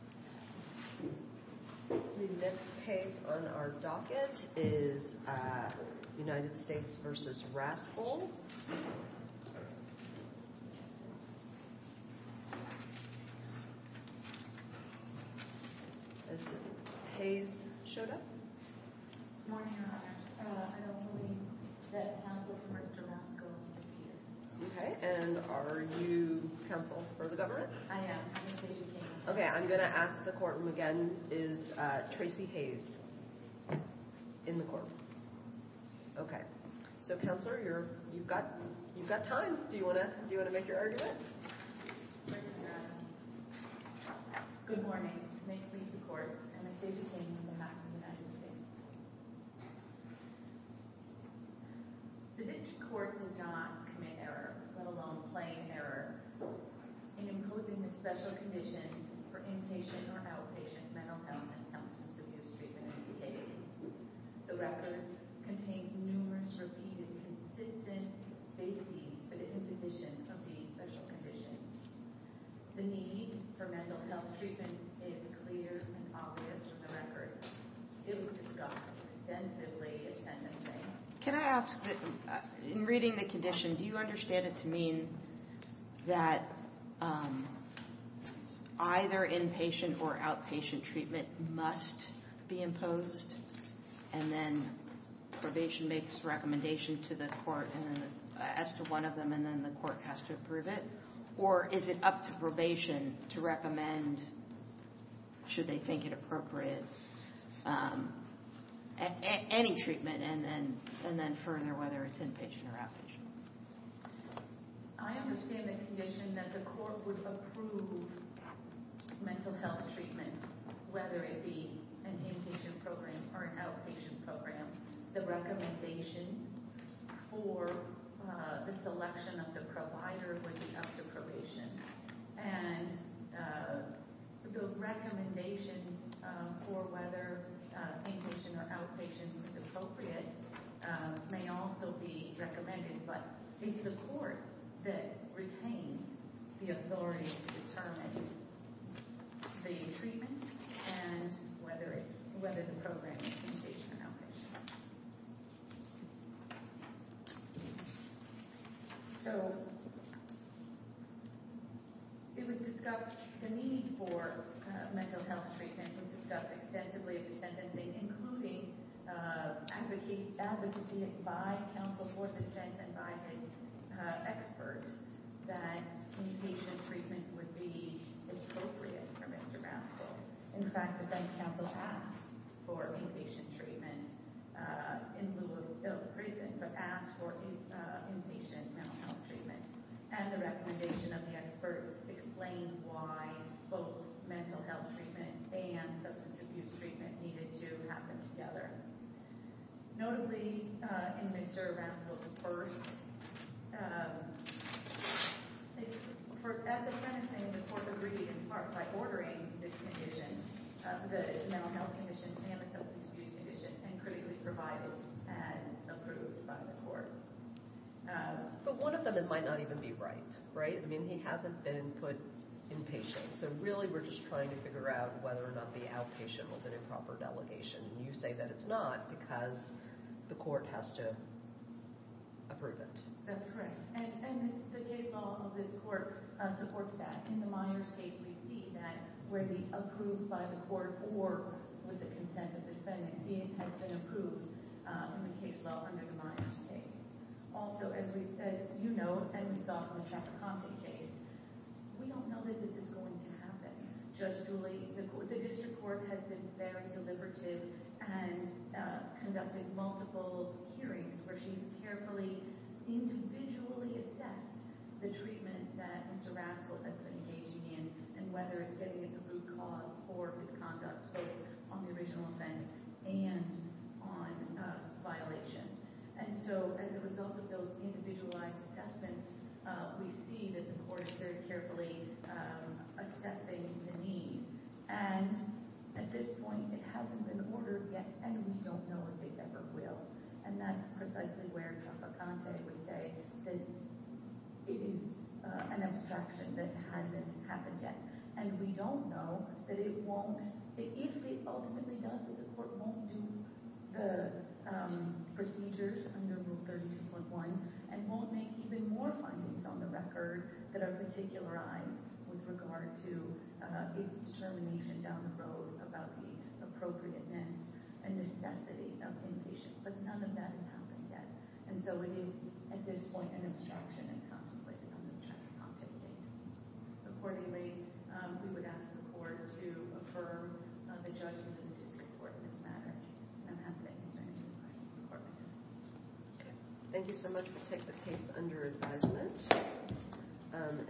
The next case on our docket is United States v. Rascoll Has Hayes showed up? Good morning, Your Honors. I don't believe that counsel for Mr. Rascoll is here. Okay, and are you counsel for the government? I am. I'm Stacey King. Okay, I'm going to ask the courtroom again. Is Tracy Hayes in the court? Okay. So, counselor, you've got time. Do you want to make your argument? Thank you, Your Honor. Good morning. May it please the court, I'm Stacey King on behalf of the United States. The district court did not commit error, let alone plain error, in imposing the special conditions for inpatient or outpatient mental health and substance abuse treatment in this case. The record contains numerous repeated consistent base deeds for the imposition of these special conditions. The need for mental health treatment is clear and obvious from the record. It was discussed extensively in sentencing. Can I ask, in reading the condition, do you understand it to mean that either inpatient or outpatient treatment must be imposed, and then probation makes recommendation to the court as to one of them, and then the court has to approve it? Or is it up to probation to recommend, should they think it appropriate, any treatment, and then further, whether it's inpatient or outpatient? I understand the condition that the court would approve mental health treatment, whether it be an inpatient program or an outpatient program. The recommendations for the selection of the provider would be up to probation. And the recommendation for whether inpatient or outpatient is appropriate may also be recommended, but it's the court that retains the authority to determine the treatment and whether the program is inpatient or outpatient. So, it was discussed, the need for mental health treatment was discussed extensively at the sentencing, including advocacy by counsel for defense and by the experts that inpatient treatment would be appropriate for Mr. Brownsville. In fact, defense counsel asked for inpatient treatment in lieu of still prison, but asked for inpatient mental health treatment. And the recommendation of the expert explained why both mental health treatment and substance abuse treatment needed to happen together. Notably, in Mr. Brownsville's first, at the sentencing, the court agreed in part by ordering this condition, the Mental Health Condition and the Substance Abuse Condition, and critically provided as approved by the court. But one of them, it might not even be right, right? I mean, he hasn't been put inpatient, so really we're just trying to figure out whether or not the outpatient was an improper delegation. And you say that it's not because the court has to approve it. That's correct. And the case law of this court supports that. In the Myers case, we see that where the approved by the court or with the consent of the defendant has been approved in the case law under the Myers case. Also, as you know, and we saw from the Traficante case, we don't know that this is going to happen. Judge Julie, the district court has been very deliberative and conducted multiple hearings where she's carefully individually assessed the treatment that Mr. Raskel has been engaging in and whether it's getting at the root cause for misconduct on the original offense and on violation. And so as a result of those individualized assessments, we see that the court is very carefully assessing the need. And at this point, it hasn't been ordered yet, and we don't know if it ever will. And that's precisely where Traficante would say that it is an abstraction that hasn't happened yet. And we don't know that it won't, if it ultimately does, that the court won't do the procedures under Rule 32.1 and won't make even more findings on the record that are particularized with regard to is it's termination down the road about the appropriateness and necessity of inpatient. But none of that has happened yet. And so it is, at this point, an abstraction as contemplated on the Traficante case. Accordingly, we would ask the court to affirm the judgment of the district court in this matter. And I'm happy to answer any questions the court may have. Thank you so much. We'll take the case under advisement.